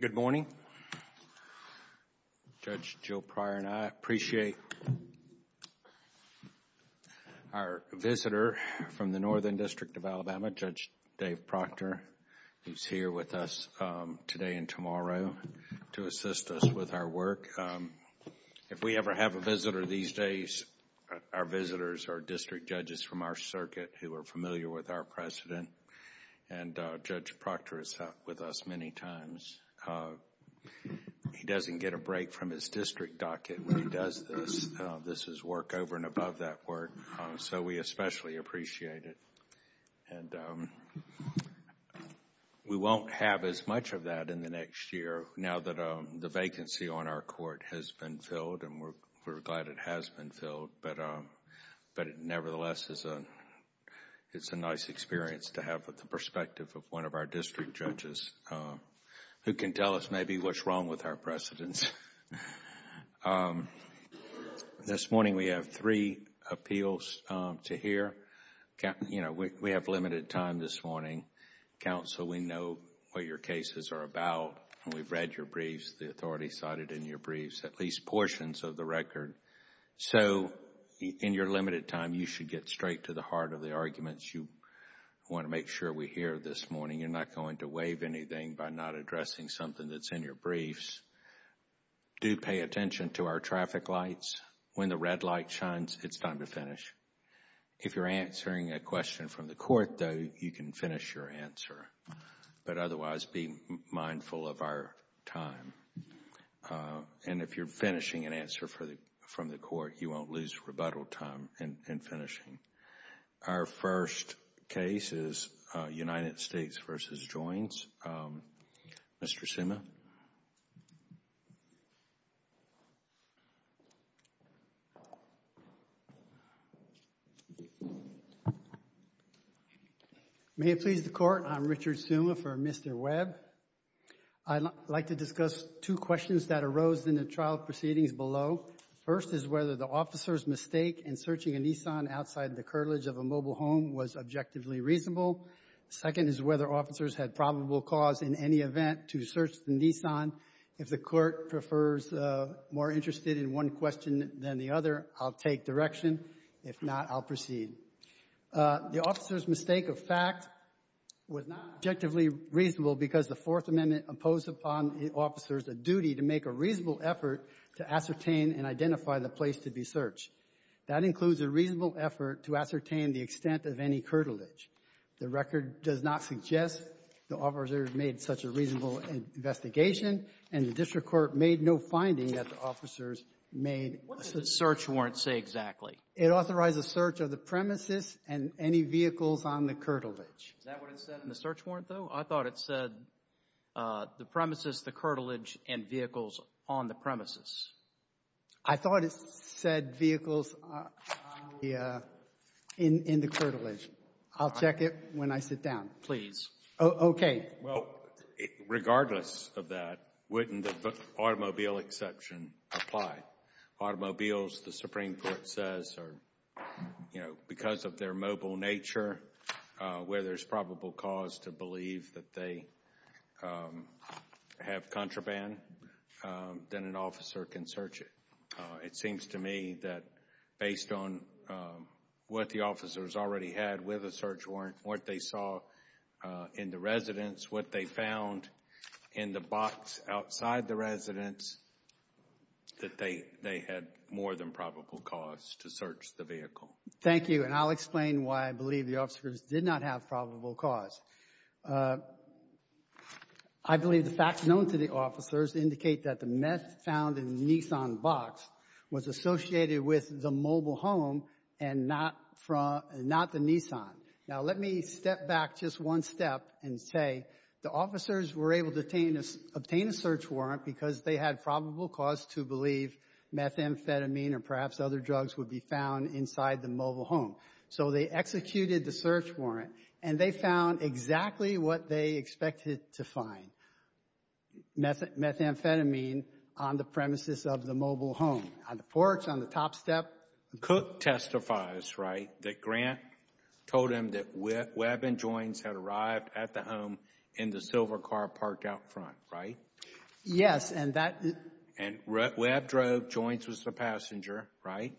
Good morning. Judge Joe Pryor and I appreciate our visitor from the Northern District of Alabama, Judge Dave Proctor, who is here with us today and tomorrow to assist us with our work. If we ever have a visitor these days, our visitors are district judges from our year with our president, and Judge Proctor is with us many times. He doesn't get a break from his district docket when he does this. This is work over and above that work, so we especially appreciate it. We won't have as much of that in the next year now that the vacancy on our court has been filled, and we're glad it has been filled, but it nevertheless is a nice experience to have with the perspective of one of our district judges who can tell us maybe what's wrong with our precedents. This morning, we have three appeals to hear. We have limited time this morning. Counsel, we know what your cases are about. We've read your briefs, the authority cited in your briefs, at least portions of the record, so in your limited time, you should get straight to the heart of the arguments you want to make sure we hear this morning. You're not going to waive anything by not addressing something that's in your briefs. Do pay attention to our traffic lights. When the red light shines, it's time to finish. If you're answering a question from the court, though, you can finish your answer, but otherwise, be mindful of the required time. And if you're finishing an answer from the court, you won't lose rebuttal time in finishing. Our first case is United States v. Joins. Mr. Suma? May it please the Court, I'm Richard Suma for Mr. Webb. I'd like to discuss two questions that arose in the trial proceedings below. First is whether the officer's mistake in searching a Nissan outside the curtilage of a mobile home was objectively reasonable. Second is whether officers had probable cause in any event to search the Nissan. If the Court prefers more interested in one question than the other, I'll take direction. If not, I'll proceed. The officer's mistake of fact was not objectively reasonable because the Fourth Amendment imposed upon the officers a duty to make a reasonable effort to ascertain and identify the place to be searched. That includes a reasonable effort to ascertain the extent of any curtilage. The record does not suggest the officers made such a reasonable investigation, and the district court made no finding that the officers made a search warrant. What does the search warrant say exactly? It authorizes search of the premises and any vehicles on the curtilage. Is that what it said in the search warrant, though? I thought it said the premises, the curtilage, and vehicles on the premises. I thought it said vehicles in the curtilage. I'll check it when I sit down. Please. Okay. Well, regardless of that, wouldn't the automobile exception apply? Automobiles, the Supreme Court says, are, you know, because of their mobile nature, where there's It seems to me that, based on what the officers already had with a search warrant, what they saw in the residence, what they found in the box outside the residence, that they had more than probable cause to search the vehicle. Thank you, and I'll explain why I believe the officers did not have probable cause. I believe the facts known to the officers indicate that the meth found in the Nissan box was associated with the mobile home and not from, not the Nissan. Now, let me step back just one step and say the officers were able to obtain a search warrant because they had probable cause to believe methamphetamine or perhaps other drugs would be found inside the mobile home. So they executed the search warrant, and they found exactly what they expected to find, methamphetamine, on the premises of the mobile home, on the porch, on the top step. Cook testifies, right, that Grant told him that Webb and Joins had arrived at the home in the silver car parked out front, right? Yes, and that... And Webb drove, Joins was the passenger, right?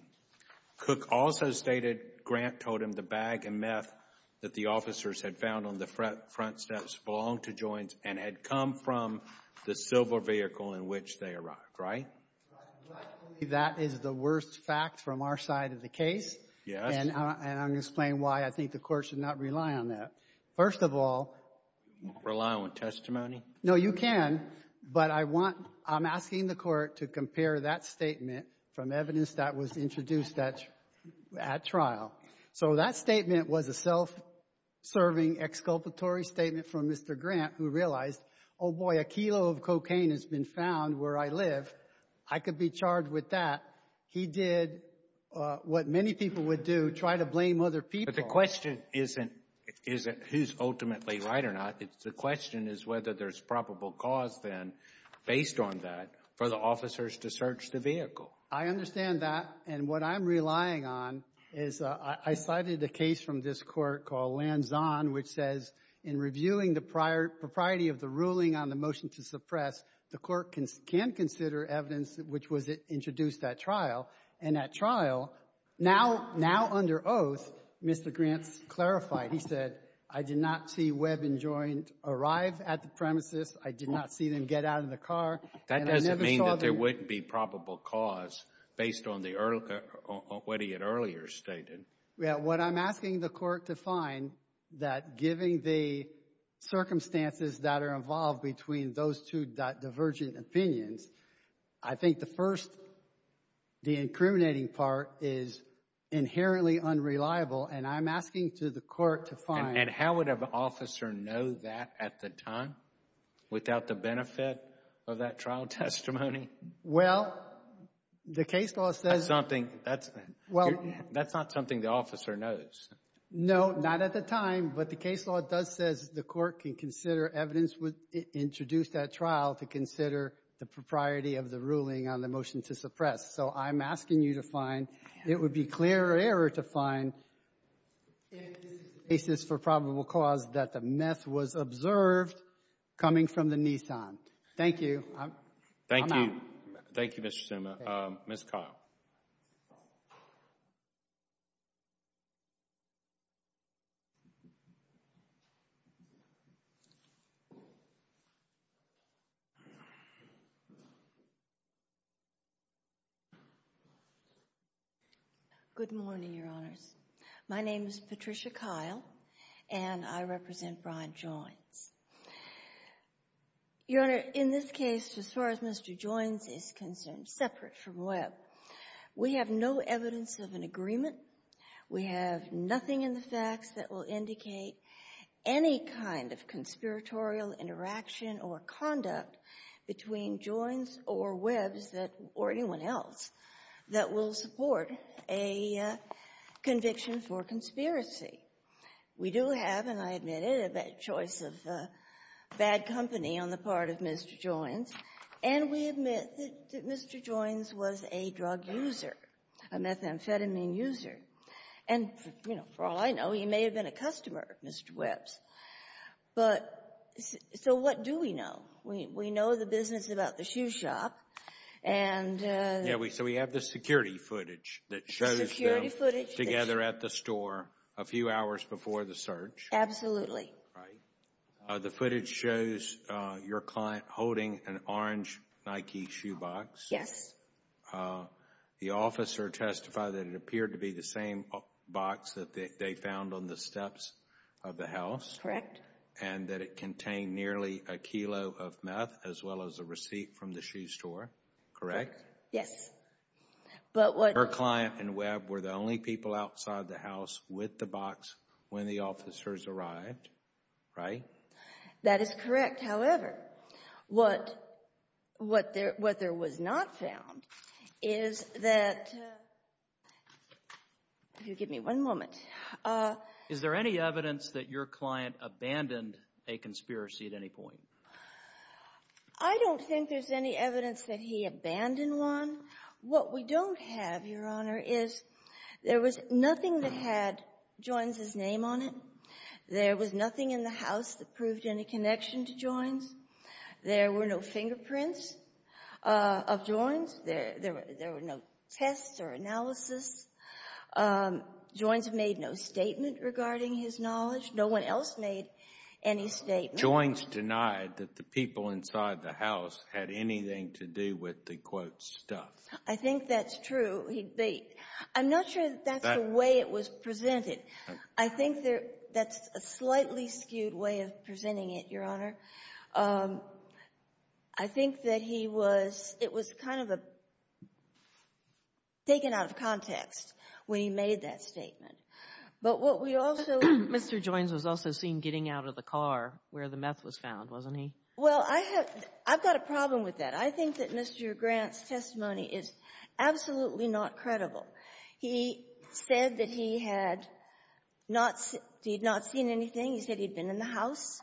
Cook also stated Grant told him the bag of meth that the officers had found on the front steps belonged to Joins and had come from the silver vehicle in which they arrived, right? Right. But that is the worst fact from our side of the case. Yes. And I'm going to explain why I think the Court should not rely on that. First of all... Rely on what, testimony? No, you can, but I want, I'm asking the Court to compare that statement from evidence that was introduced at trial. So that statement was a self-serving exculpatory statement from Mr. Grant, who realized, oh boy, a kilo of cocaine has been found where I live. I could be charged with that. He did what many people would do, try to blame other people. But the question isn't who's ultimately right or not. The question is whether there's probable cause then, based on that, for the officers to search the vehicle. I understand that. And what I'm relying on is, I cited a case from this Court called Lanzon, which says in reviewing the prior, propriety of the ruling on the motion to suppress, the Court can consider evidence which was introduced at trial. And at trial, now, now under oath, Mr. Grant's clarified. He said, I did not see Webb and Joins arrive at the premises. I did not see them get out of the car. That doesn't mean that there wouldn't be probable cause, based on the earlier, what he had earlier stated. Yeah, what I'm asking the Court to find, that given the circumstances that are involved between those two divergent opinions, I think the first, the incriminating part is inherently unreliable. And I'm asking to the Court to find. And how would an officer know that at the time? Without the benefit of that trial testimony? Well, the case law says. That's something, that's. Well. That's not something the officer knows. No, not at the time. But the case law does says the Court can consider evidence introduced at trial to consider the propriety of the ruling on the motion to suppress. So I'm asking you to find. It would be clear error to find, if this is the basis for probable cause, that the meth was observed coming from the Nissan. Thank you. Thank you. Thank you, Mr. Suma. Ms. Kyle. Good morning, Your Honors. My name is Patricia Kyle. And I represent Brian Joines. Your Honor, in this case, as far as Mr. Joines is concerned, separate from Webb, we have no evidence of an agreement. We have nothing in the facts that will indicate any kind of conspiratorial interaction or conduct between Joines or Webb's or anyone else that will support a conviction for conspiracy. We do have, and I admit it, a choice of bad company on the part of Mr. Joines. And we admit that Mr. Joines was a drug user, a methamphetamine user. And for all I know, he may have been a customer of Mr. Webb's. So what do we know? We know the business about the shoe shop. And... Yeah, so we have the security footage that shows them together at the store a few hours before the search. Absolutely. Right. The footage shows your client holding an orange Nike shoe box. Yes. The officer testified that it appeared to be the same box that they found on the steps of the house. Correct. And that it contained nearly a kilo of meth as well as a receipt from the shoe store. Correct? Yes. But what... Your client and Webb were the only people outside the house with the box when the officers arrived, right? That is correct. However, what there was not found is that... If you'll give me one moment. Is there any evidence that your client abandoned a conspiracy at any point? I don't think there's any evidence that he abandoned one. What we don't have, Your Honor, is there was nothing that had Joins' name on it. There was nothing in the house that proved any connection to Joins. There were no fingerprints of Joins. There were no tests or analysis. Joins made no statement regarding his knowledge. No one else made any statement. Joins denied that the people inside the house had anything to do with the, quote, stuff. I think that's true. He'd be... I'm not sure that's the way it was presented. I think that's a slightly skewed way of presenting it, Your Honor. I think that he was... It was kind of taken out of context when he made that statement. But what we also... Mr. Joins was also seen getting out of the car where the meth was found, wasn't he? Well, I have... I've got a problem with that. I think that Mr. Grant's testimony is absolutely not credible. He said that he had not seen anything. He said he'd been in the house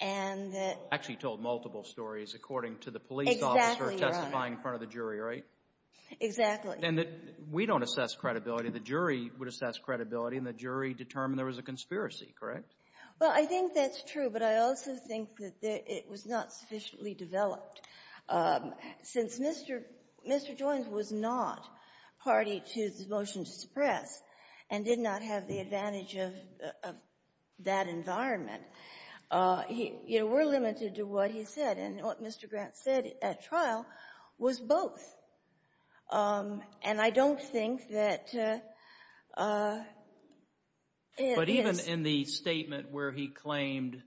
and that... Actually told multiple stories according to the police officer testifying in front of the jury, right? Exactly. And that we don't assess credibility. The jury would assess credibility, and the jury determined there was a conspiracy, correct? Well, I think that's true, but I also think that it was not sufficiently developed. Since Mr. Joins was not party to the motion to suppress and did not have the advantage of that environment, we're limited to what he said, and what Mr. Grant said at trial was both. And I don't think that... But even in the statement where he claimed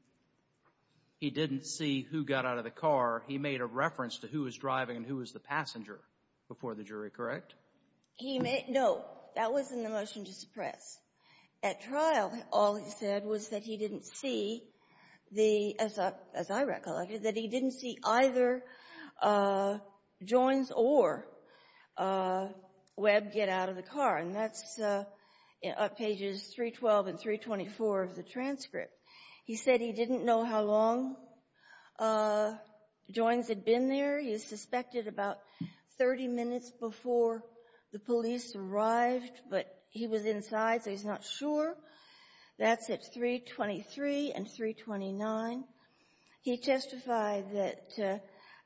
he didn't see who got out of the car, he made a reference to who was driving and who was the passenger before the jury, correct? He made... No. That was in the motion to suppress. At trial, all he said was that he didn't see the... As I recollected, that he didn't see either Joins or Webb get out of the car, and that's pages 312 and 324 of the transcript. He said he didn't know how long Joins had been there. He suspected about 30 minutes before the police arrived, but he was inside, so he's not sure. That's at 323 and 329. He testified that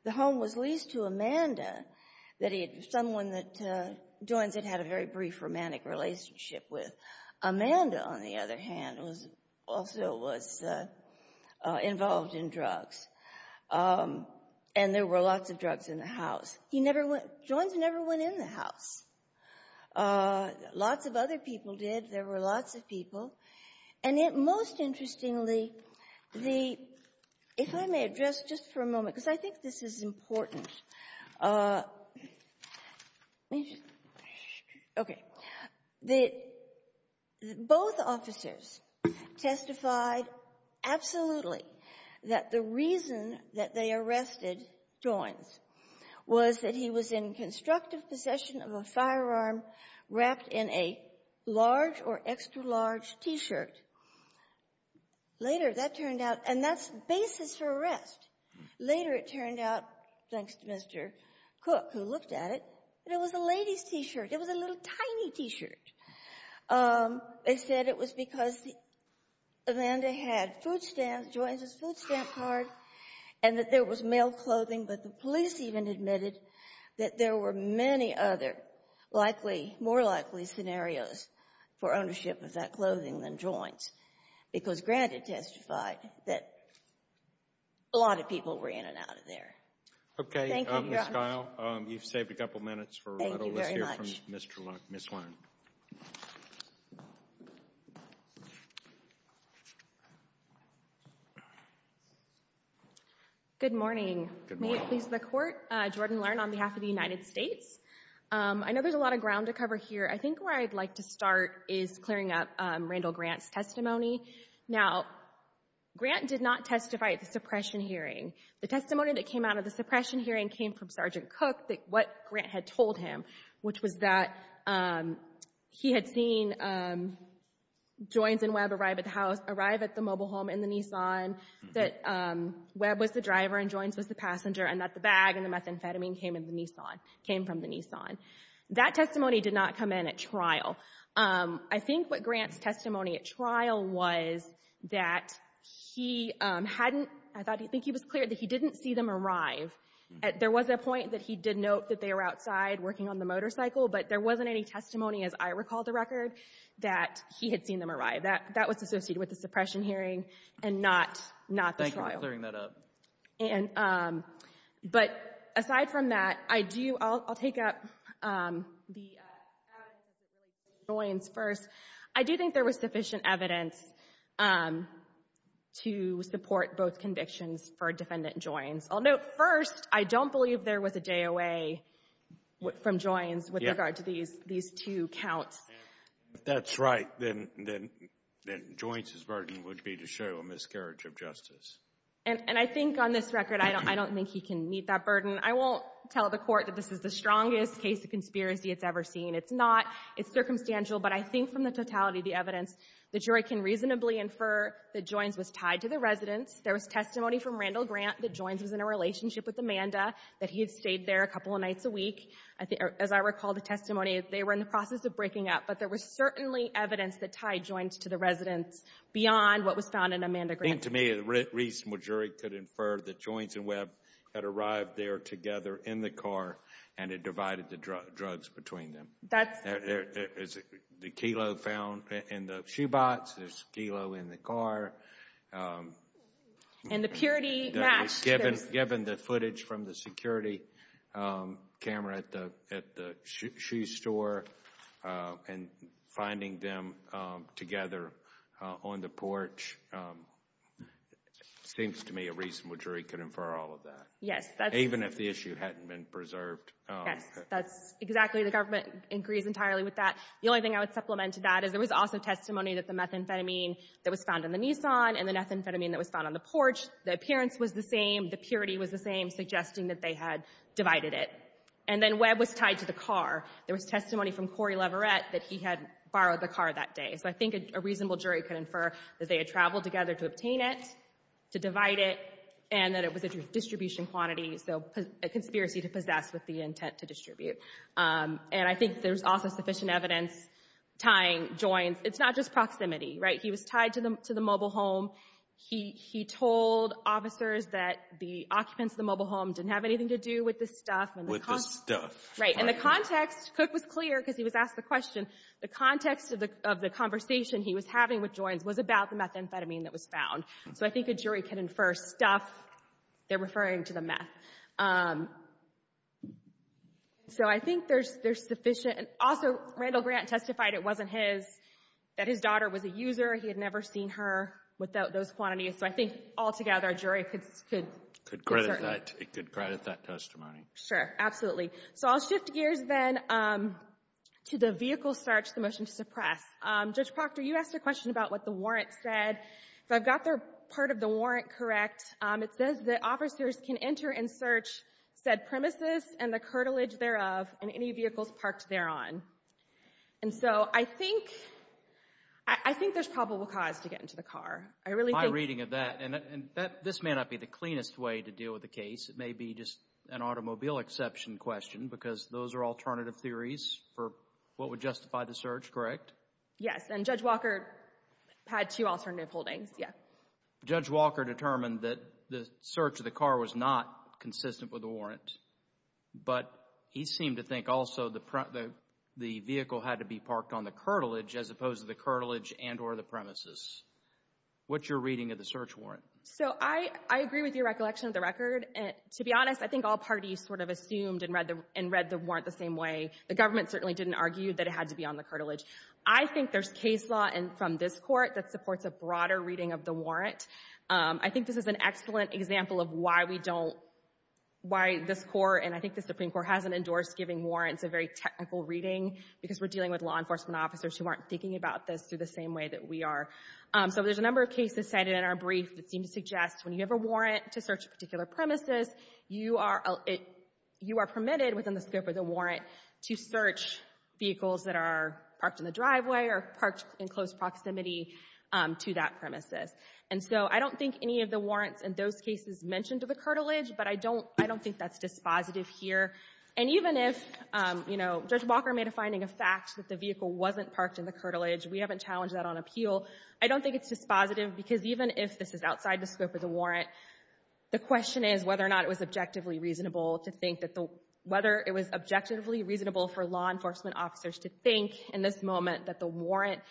the home was leased to Amanda, that someone that Joins had had a very brief romantic relationship with. Amanda, on the other hand, also was involved in drugs, and there were lots of drugs in the house. He never went... Joins never went in the house. Lots of other people did. There were lots of people. And most interestingly, the... If I may address, just for a moment, because I think this is important. Let me just... Okay. Both officers testified absolutely that the reason that they arrested Joins was that he was in constructive possession of a firearm wrapped in a large or extra-large T-shirt. Later, that turned out... And that's basis for arrest. Later, it turned out, thanks to Mr. Cook, who looked at it, that it was a lady's T-shirt. It was a little, tiny T-shirt. They said it was because Amanda had food stamps, Joins' food stamp card, and that there was male clothing. But the police even admitted that there were many other likely, more likely scenarios for ownership of that clothing than Joins. Because Grant had testified that a lot of people were in and out of there. Okay, Ms. Guile, you've saved a couple minutes for a little list here from Ms. Lern. Good morning. May it please the Court, Jordan Lern on behalf of the United States. I know there's a lot of ground to cover here. I think where I'd like to start is clearing up Randall Grant's testimony. Now, Grant did not testify at the suppression hearing. The testimony that came out of the suppression hearing came from Sergeant Cook, what Grant had told him, which was that he had seen Joins and Webb arrive at the house, arrive at the mobile home in the Nissan, that Webb was the driver and Joins was the passenger, and that the bag and the methamphetamine came in the Nissan, came from the Nissan. That testimony did not come in at trial. I think what Grant's testimony at trial was that he hadn't, I think he was clear that he didn't see them arrive. There was a point that he did note that they were outside working on the motorcycle, but there wasn't any testimony, as I recall the record, that he had seen them arrive. That was associated with the suppression hearing and not the trial. Thank you for clearing that up. And, but aside from that, I do, I'll take up the evidence that relates to Joins first. I do think there was sufficient evidence to support both convictions for defendant Joins. I'll note first, I don't believe there was a DOA from Joins with regard to these two counts. If that's right, then Joins' burden would be to show a miscarriage of justice. And I think on this record, I don't think he can meet that burden. I won't tell the court that this is the strongest case of conspiracy it's ever seen. It's not. It's circumstantial. But I think from the totality of the evidence, the jury can reasonably infer that Joins was tied to the residence. There was testimony from Randall Grant that Joins was in a relationship with Amanda, that he had stayed there a couple of nights a week. I think, as I recall the testimony, they were in the process of breaking up. But there was certainly evidence that tied Joins to the residence beyond what was found in Amanda Grant. I think to me, a reasonable jury could infer that Joins and Webb had arrived there together in the car and had divided the drugs between them. That's... There is the kilo found in the shoe box. There's kilo in the car. And the purity match. Given the footage from the security camera at the shoe store and finding them together on the porch, it seems to me a reasonable jury could infer all of that. Yes, that's... Even if the issue hadn't been preserved. Yes, that's exactly. The government agrees entirely with that. The only thing I would supplement to that is there was also testimony that the methamphetamine that was found in the Nissan and the methamphetamine that was found on the porch, the appearance was the same, the purity was the same, suggesting that they had divided it. And then Webb was tied to the car. There was testimony from Corey Leverett that he had borrowed the car that day. So I think a reasonable jury could infer that they had traveled together to obtain it, to divide it, and that it was a distribution quantity, so a conspiracy to possess with the intent to distribute. And I think there's also sufficient evidence tying Joins. It's not just proximity, right? He was tied to the mobile home. He told officers that the occupants of the mobile home didn't have anything to do with this stuff. With this stuff. Right, and the context, Cook was clear, because he was asked the question, the context of the conversation he was having with Joins was about the methamphetamine that was found. So I think a jury can infer stuff, they're referring to the meth. So I think there's sufficient, and also Randall Grant testified it wasn't his, that his daughter was a user, he had never seen her without those quantities. So I think altogether a jury could... Could credit that, it could credit that testimony. Sure, absolutely. So I'll shift gears then to the vehicle search, the motion to suppress. Judge Proctor, you asked a question about what the warrant said. If I've got part of the warrant correct, it says that officers can enter and search said premises and the curtilage thereof in any vehicles parked thereon. And so I think, I think there's probable cause to get into the car. I really think... My reading of that, and this may not be the cleanest way to deal with the case, it may be just an automobile exception question, because those are alternative theories for what would justify the search, correct? Yes, and Judge Walker had two alternative holdings, yeah. Judge Walker determined that the search of the car was not consistent with the warrant, but he seemed to think also the vehicle had to be parked on the curtilage as opposed to the curtilage and or the premises. What's your reading of the search warrant? So I agree with your recollection of the record. And to be honest, I think all parties sort of assumed and read the warrant the same way. The government certainly didn't argue that it had to be on the curtilage. I think there's case law from this Court that supports a broader reading of the warrant. I think this is an excellent example of why we don't, why this Court and I think the Supreme Court hasn't endorsed giving warrants a very technical reading because we're dealing with law enforcement officers who aren't thinking about this through the same way that we are. So there's a number of cases cited in our brief that seem to suggest when you have a warrant to search a particular premises, you are permitted within the scope of the warrant to search vehicles that are parked in the driveway or parked in close proximity to that premises. And so I don't think any of the warrants in those cases mentioned to the curtilage, but I don't think that's dispositive here. And even if, you know, Judge Walker made a finding of facts that the vehicle wasn't parked in the curtilage, we haven't challenged that on appeal. I don't think it's dispositive because even if this is outside the scope of the warrant, the question is whether or not it was objectively reasonable to think that the, whether it was objectively reasonable for law enforcement officers to think in this moment that the warrant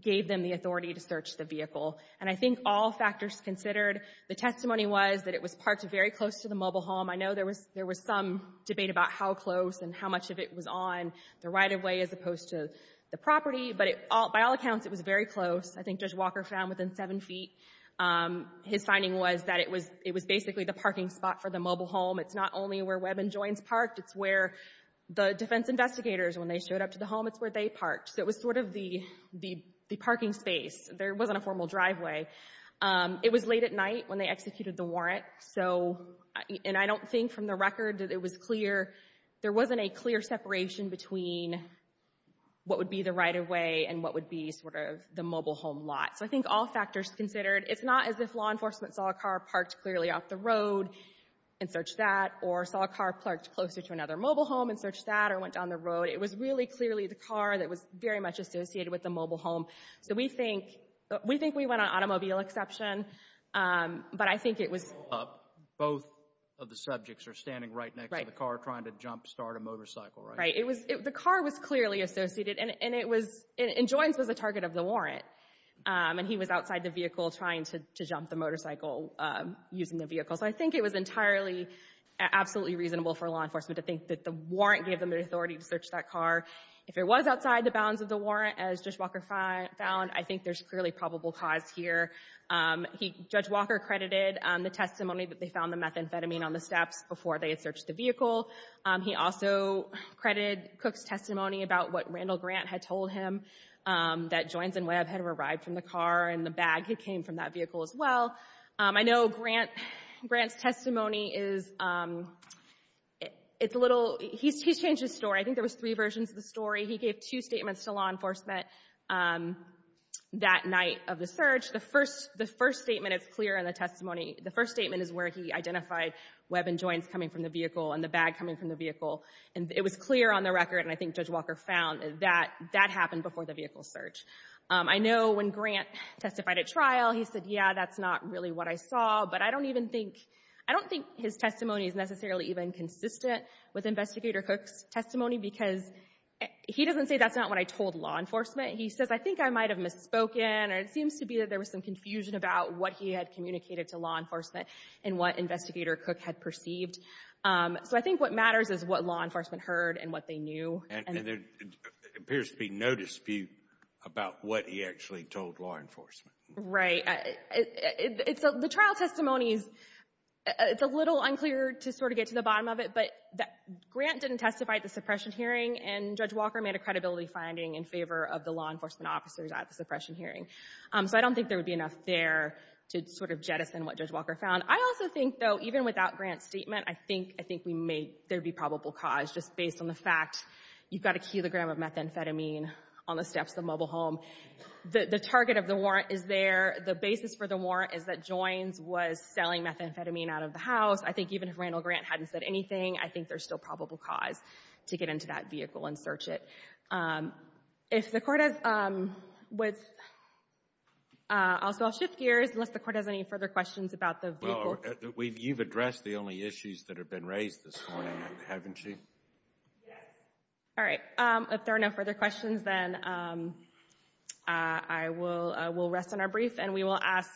gave them the authority to search the vehicle. And I think all factors considered, the testimony was that it was parked very close to the mobile home. I know there was some debate about how close and how much of it was on the right-of-way as opposed to the property, but by all accounts, it was very close. I think Judge Walker found within seven feet. His finding was that it was basically the parking spot for the mobile home. It's not only where Webb and Joynes parked. It's where the defense investigators, when they showed up to the home, it's where they parked. So it was sort of the parking space. There wasn't a formal driveway. It was late at night when they executed the warrant. So, and I don't think from the record that it was clear, there wasn't a clear separation between what would be the right-of-way and what would be sort of the mobile home lot. So I think all factors considered, it's not as if law enforcement saw a car parked clearly off the road and searched that or saw a car parked closer to another mobile home and searched that or went down the road. It was really clearly the car that was very much associated with the mobile home. So we think, we think we went on automobile exception, but I think it was... Both of the subjects are standing right next to the car trying to jump start a motorcycle, right? Right. It was, the car was clearly associated and it was, and Joynes was a target of the warrant. And he was outside the vehicle trying to jump the motorcycle using the vehicle. So I think it was entirely, absolutely reasonable for law enforcement to think that the warrant gave them the authority to search that car. If it was outside the bounds of the warrant, as Judge Walker found, I think there's clearly probable cause here. He, Judge Walker credited the testimony that they found the methamphetamine on the steps before they had searched the vehicle. He also credited Cook's testimony about what Randall Grant had told him that Joynes and Webb had arrived from the car and the bag that came from that vehicle as well. I know Grant, Grant's testimony is, it's a little, he's changed his story. I think there was three versions of the story. He gave two statements to law enforcement that night of the search. The first, the first statement is clear in the testimony. The first statement is where he identified Webb and Joynes coming from the vehicle and the bag coming from the vehicle. And it was clear on the record, and I think Judge Walker found, that that happened before the vehicle search. I know when Grant testified at trial, he said, yeah, that's not really what I saw. But I don't even think, I don't think his testimony is necessarily even consistent with Investigator Cook's testimony because he doesn't say that's not what I told law enforcement. He says, I think I might have misspoken, or it seems to be that there was some confusion about what he had communicated to law enforcement and what Investigator Cook had perceived. So I think what matters is what law enforcement heard and what they knew. And there appears to be no dispute about what he actually told law enforcement. Right. The trial testimony is, it's a little unclear to sort of get to the bottom of it, but Grant didn't testify at the suppression hearing, and Judge Walker made a credibility finding in favor of the law enforcement officers at the suppression hearing. So I don't think there would be enough there to sort of jettison what Judge Walker found. I also think, though, even without Grant's statement, I think, I think we may, there'd be probable cause, just based on the fact you've got a kilogram of methamphetamine on the steps of the mobile home. The target of the warrant is there. The basis for the warrant is that Joynes was selling methamphetamine out of the house. I think even if Randall Grant hadn't said anything, I think there's still probable cause to get into that vehicle and search it. If the Court has, I'll shift gears unless the Court has any further questions about the vehicle. You've addressed the only issues that have been raised this morning, haven't you? Yes. All right. If there are no further questions, then I will rest on our brief, and we will ask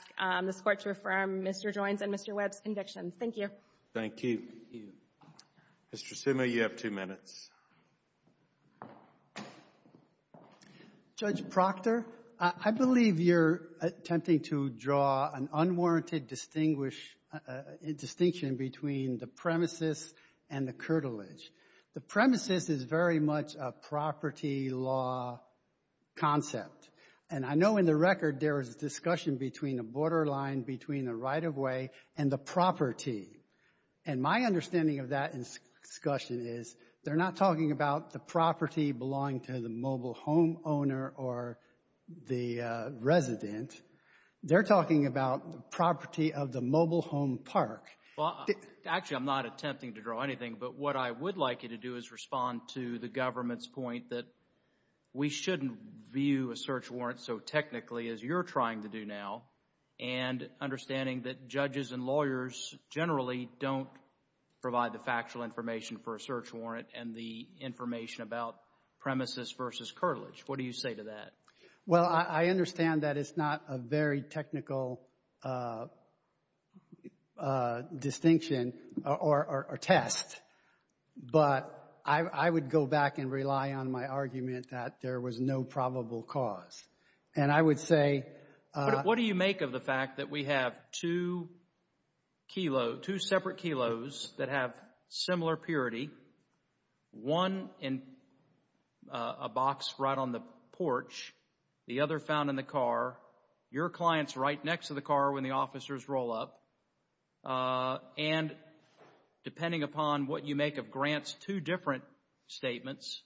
this Court to affirm Mr. Joynes and Mr. Webb's convictions. Thank you. Thank you. Mr. Sima, you have two minutes. Judge Proctor, I believe you're attempting to draw an unwarranted distinction between the premises and the curtilage. The premises is very much a property law concept, and I know in the record there was a discussion between a borderline, between a right-of-way, and the property. And my understanding of that discussion is they're not talking about the property belonging to the mobile home owner or the resident. They're talking about the property of the mobile home park. Actually, I'm not attempting to draw anything, but what I would like you to do is respond to the government's point that we shouldn't view a search warrant so technically as you're trying to do now, and understanding that judges and lawyers generally don't provide the factual information for a search warrant and the information about premises versus curtilage. What do you say to that? Well, I understand that it's not a very technical distinction or test, but I would go back and rely on my argument that there was no probable cause. And I would say... What do you make of the fact that we have two kilo, two separate kilos that have similar purity, one in a box right on the porch, the other found in the car, your clients right next to the car when the officers roll up, and depending upon what you make of Grant's two different statements,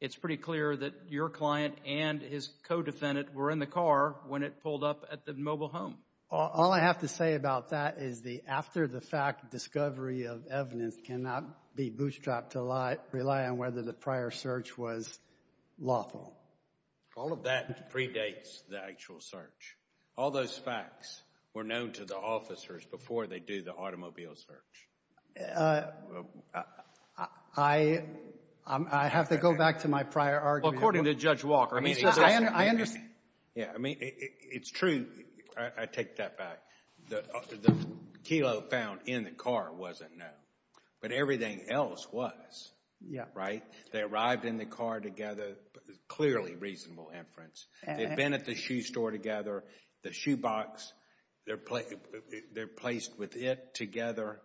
it's pretty clear that your client and his co-defendant were in the car when it pulled up at the mobile home. All I have to say about that is the after-the-fact discovery of evidence cannot be bootstrapped to rely on whether the prior search was lawful. All of that predates the actual search. All those facts were known to the officers before they do the automobile search. I have to go back to my prior argument. Well, according to Judge Walker, I mean... I understand. Yeah, I mean, it's true. I take that back. The kilo found in the car wasn't known, but everything else was. Yeah. Right? They arrived in the car together, clearly reasonable inference. They've been at the shoe store together. The shoe box, they're placed with it together.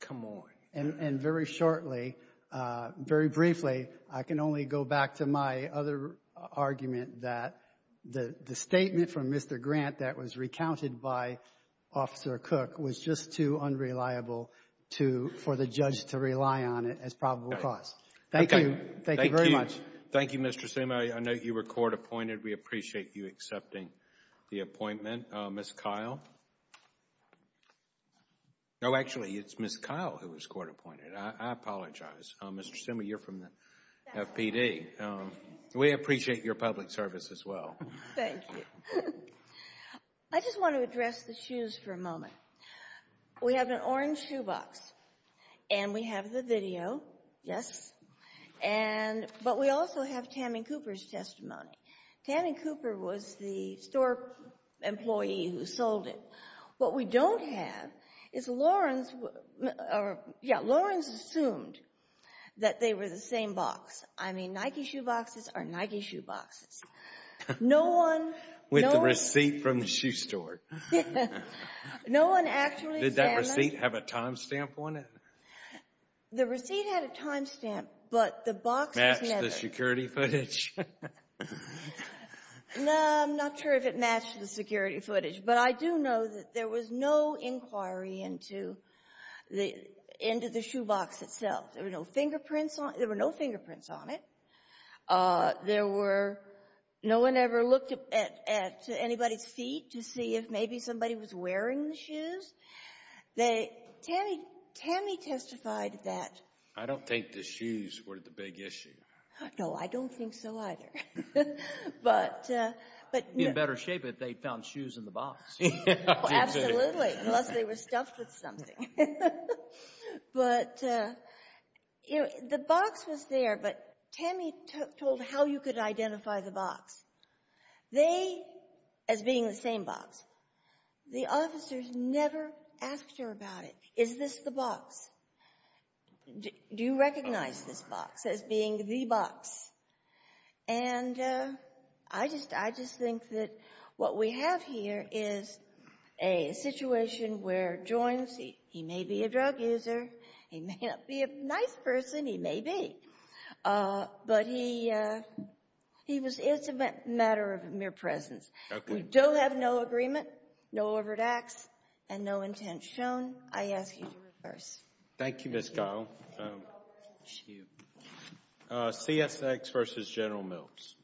Come on. And very shortly, very briefly, I can only go back to my other argument that the statement from Mr. Grant that was recounted by Officer Cook was just too unreliable for the judge to rely on it as probable cause. Thank you. Thank you very much. Thank you, Mr. Sumo. I know you were court appointed. We appreciate you accepting the appointment. Ms. Kyle? No, actually, it's Ms. Kyle who was court appointed. I apologize. Mr. Sumo, you're from the FPD. We appreciate your public service as well. Thank you. I just want to address the shoes for a moment. We have an orange shoe box, and we have the video, yes? But we also have Tammy Cooper's testimony. Tammy Cooper was the store employee who sold it. What we don't have is Lawrence assumed that they were the same box. I mean, Nike shoe boxes are Nike shoe boxes. No one- With the receipt from the shoe store. No one actually examined- Did that receipt have a time stamp on it? The receipt had a time stamp, but the box- Matched the security footage? No, I'm not sure if it matched the security footage, but I do know that there was no inquiry into the shoe box itself. There were no fingerprints on it. No one ever looked at anybody's feet to see if maybe somebody was wearing the shoes. They- Tammy testified that- I don't think the shoes were the big issue. No, I don't think so either, but- In better shape if they found shoes in the box. Absolutely, unless they were stuffed with something. But the box was there, but Tammy told how you could identify the box. They, as being the same box, the officers never asked her about it. Is this the box? Do you recognize this box as being the box? And I just think that what we have here is a situation where Joins- He may be a drug user. He may not be a nice person. He may be. But he was- It's a matter of mere presence. We do have no agreement, no overt acts, and no intent shown. I ask you to reverse. Thank you, Ms. Kyle. Thank you. CSX v. General Mills.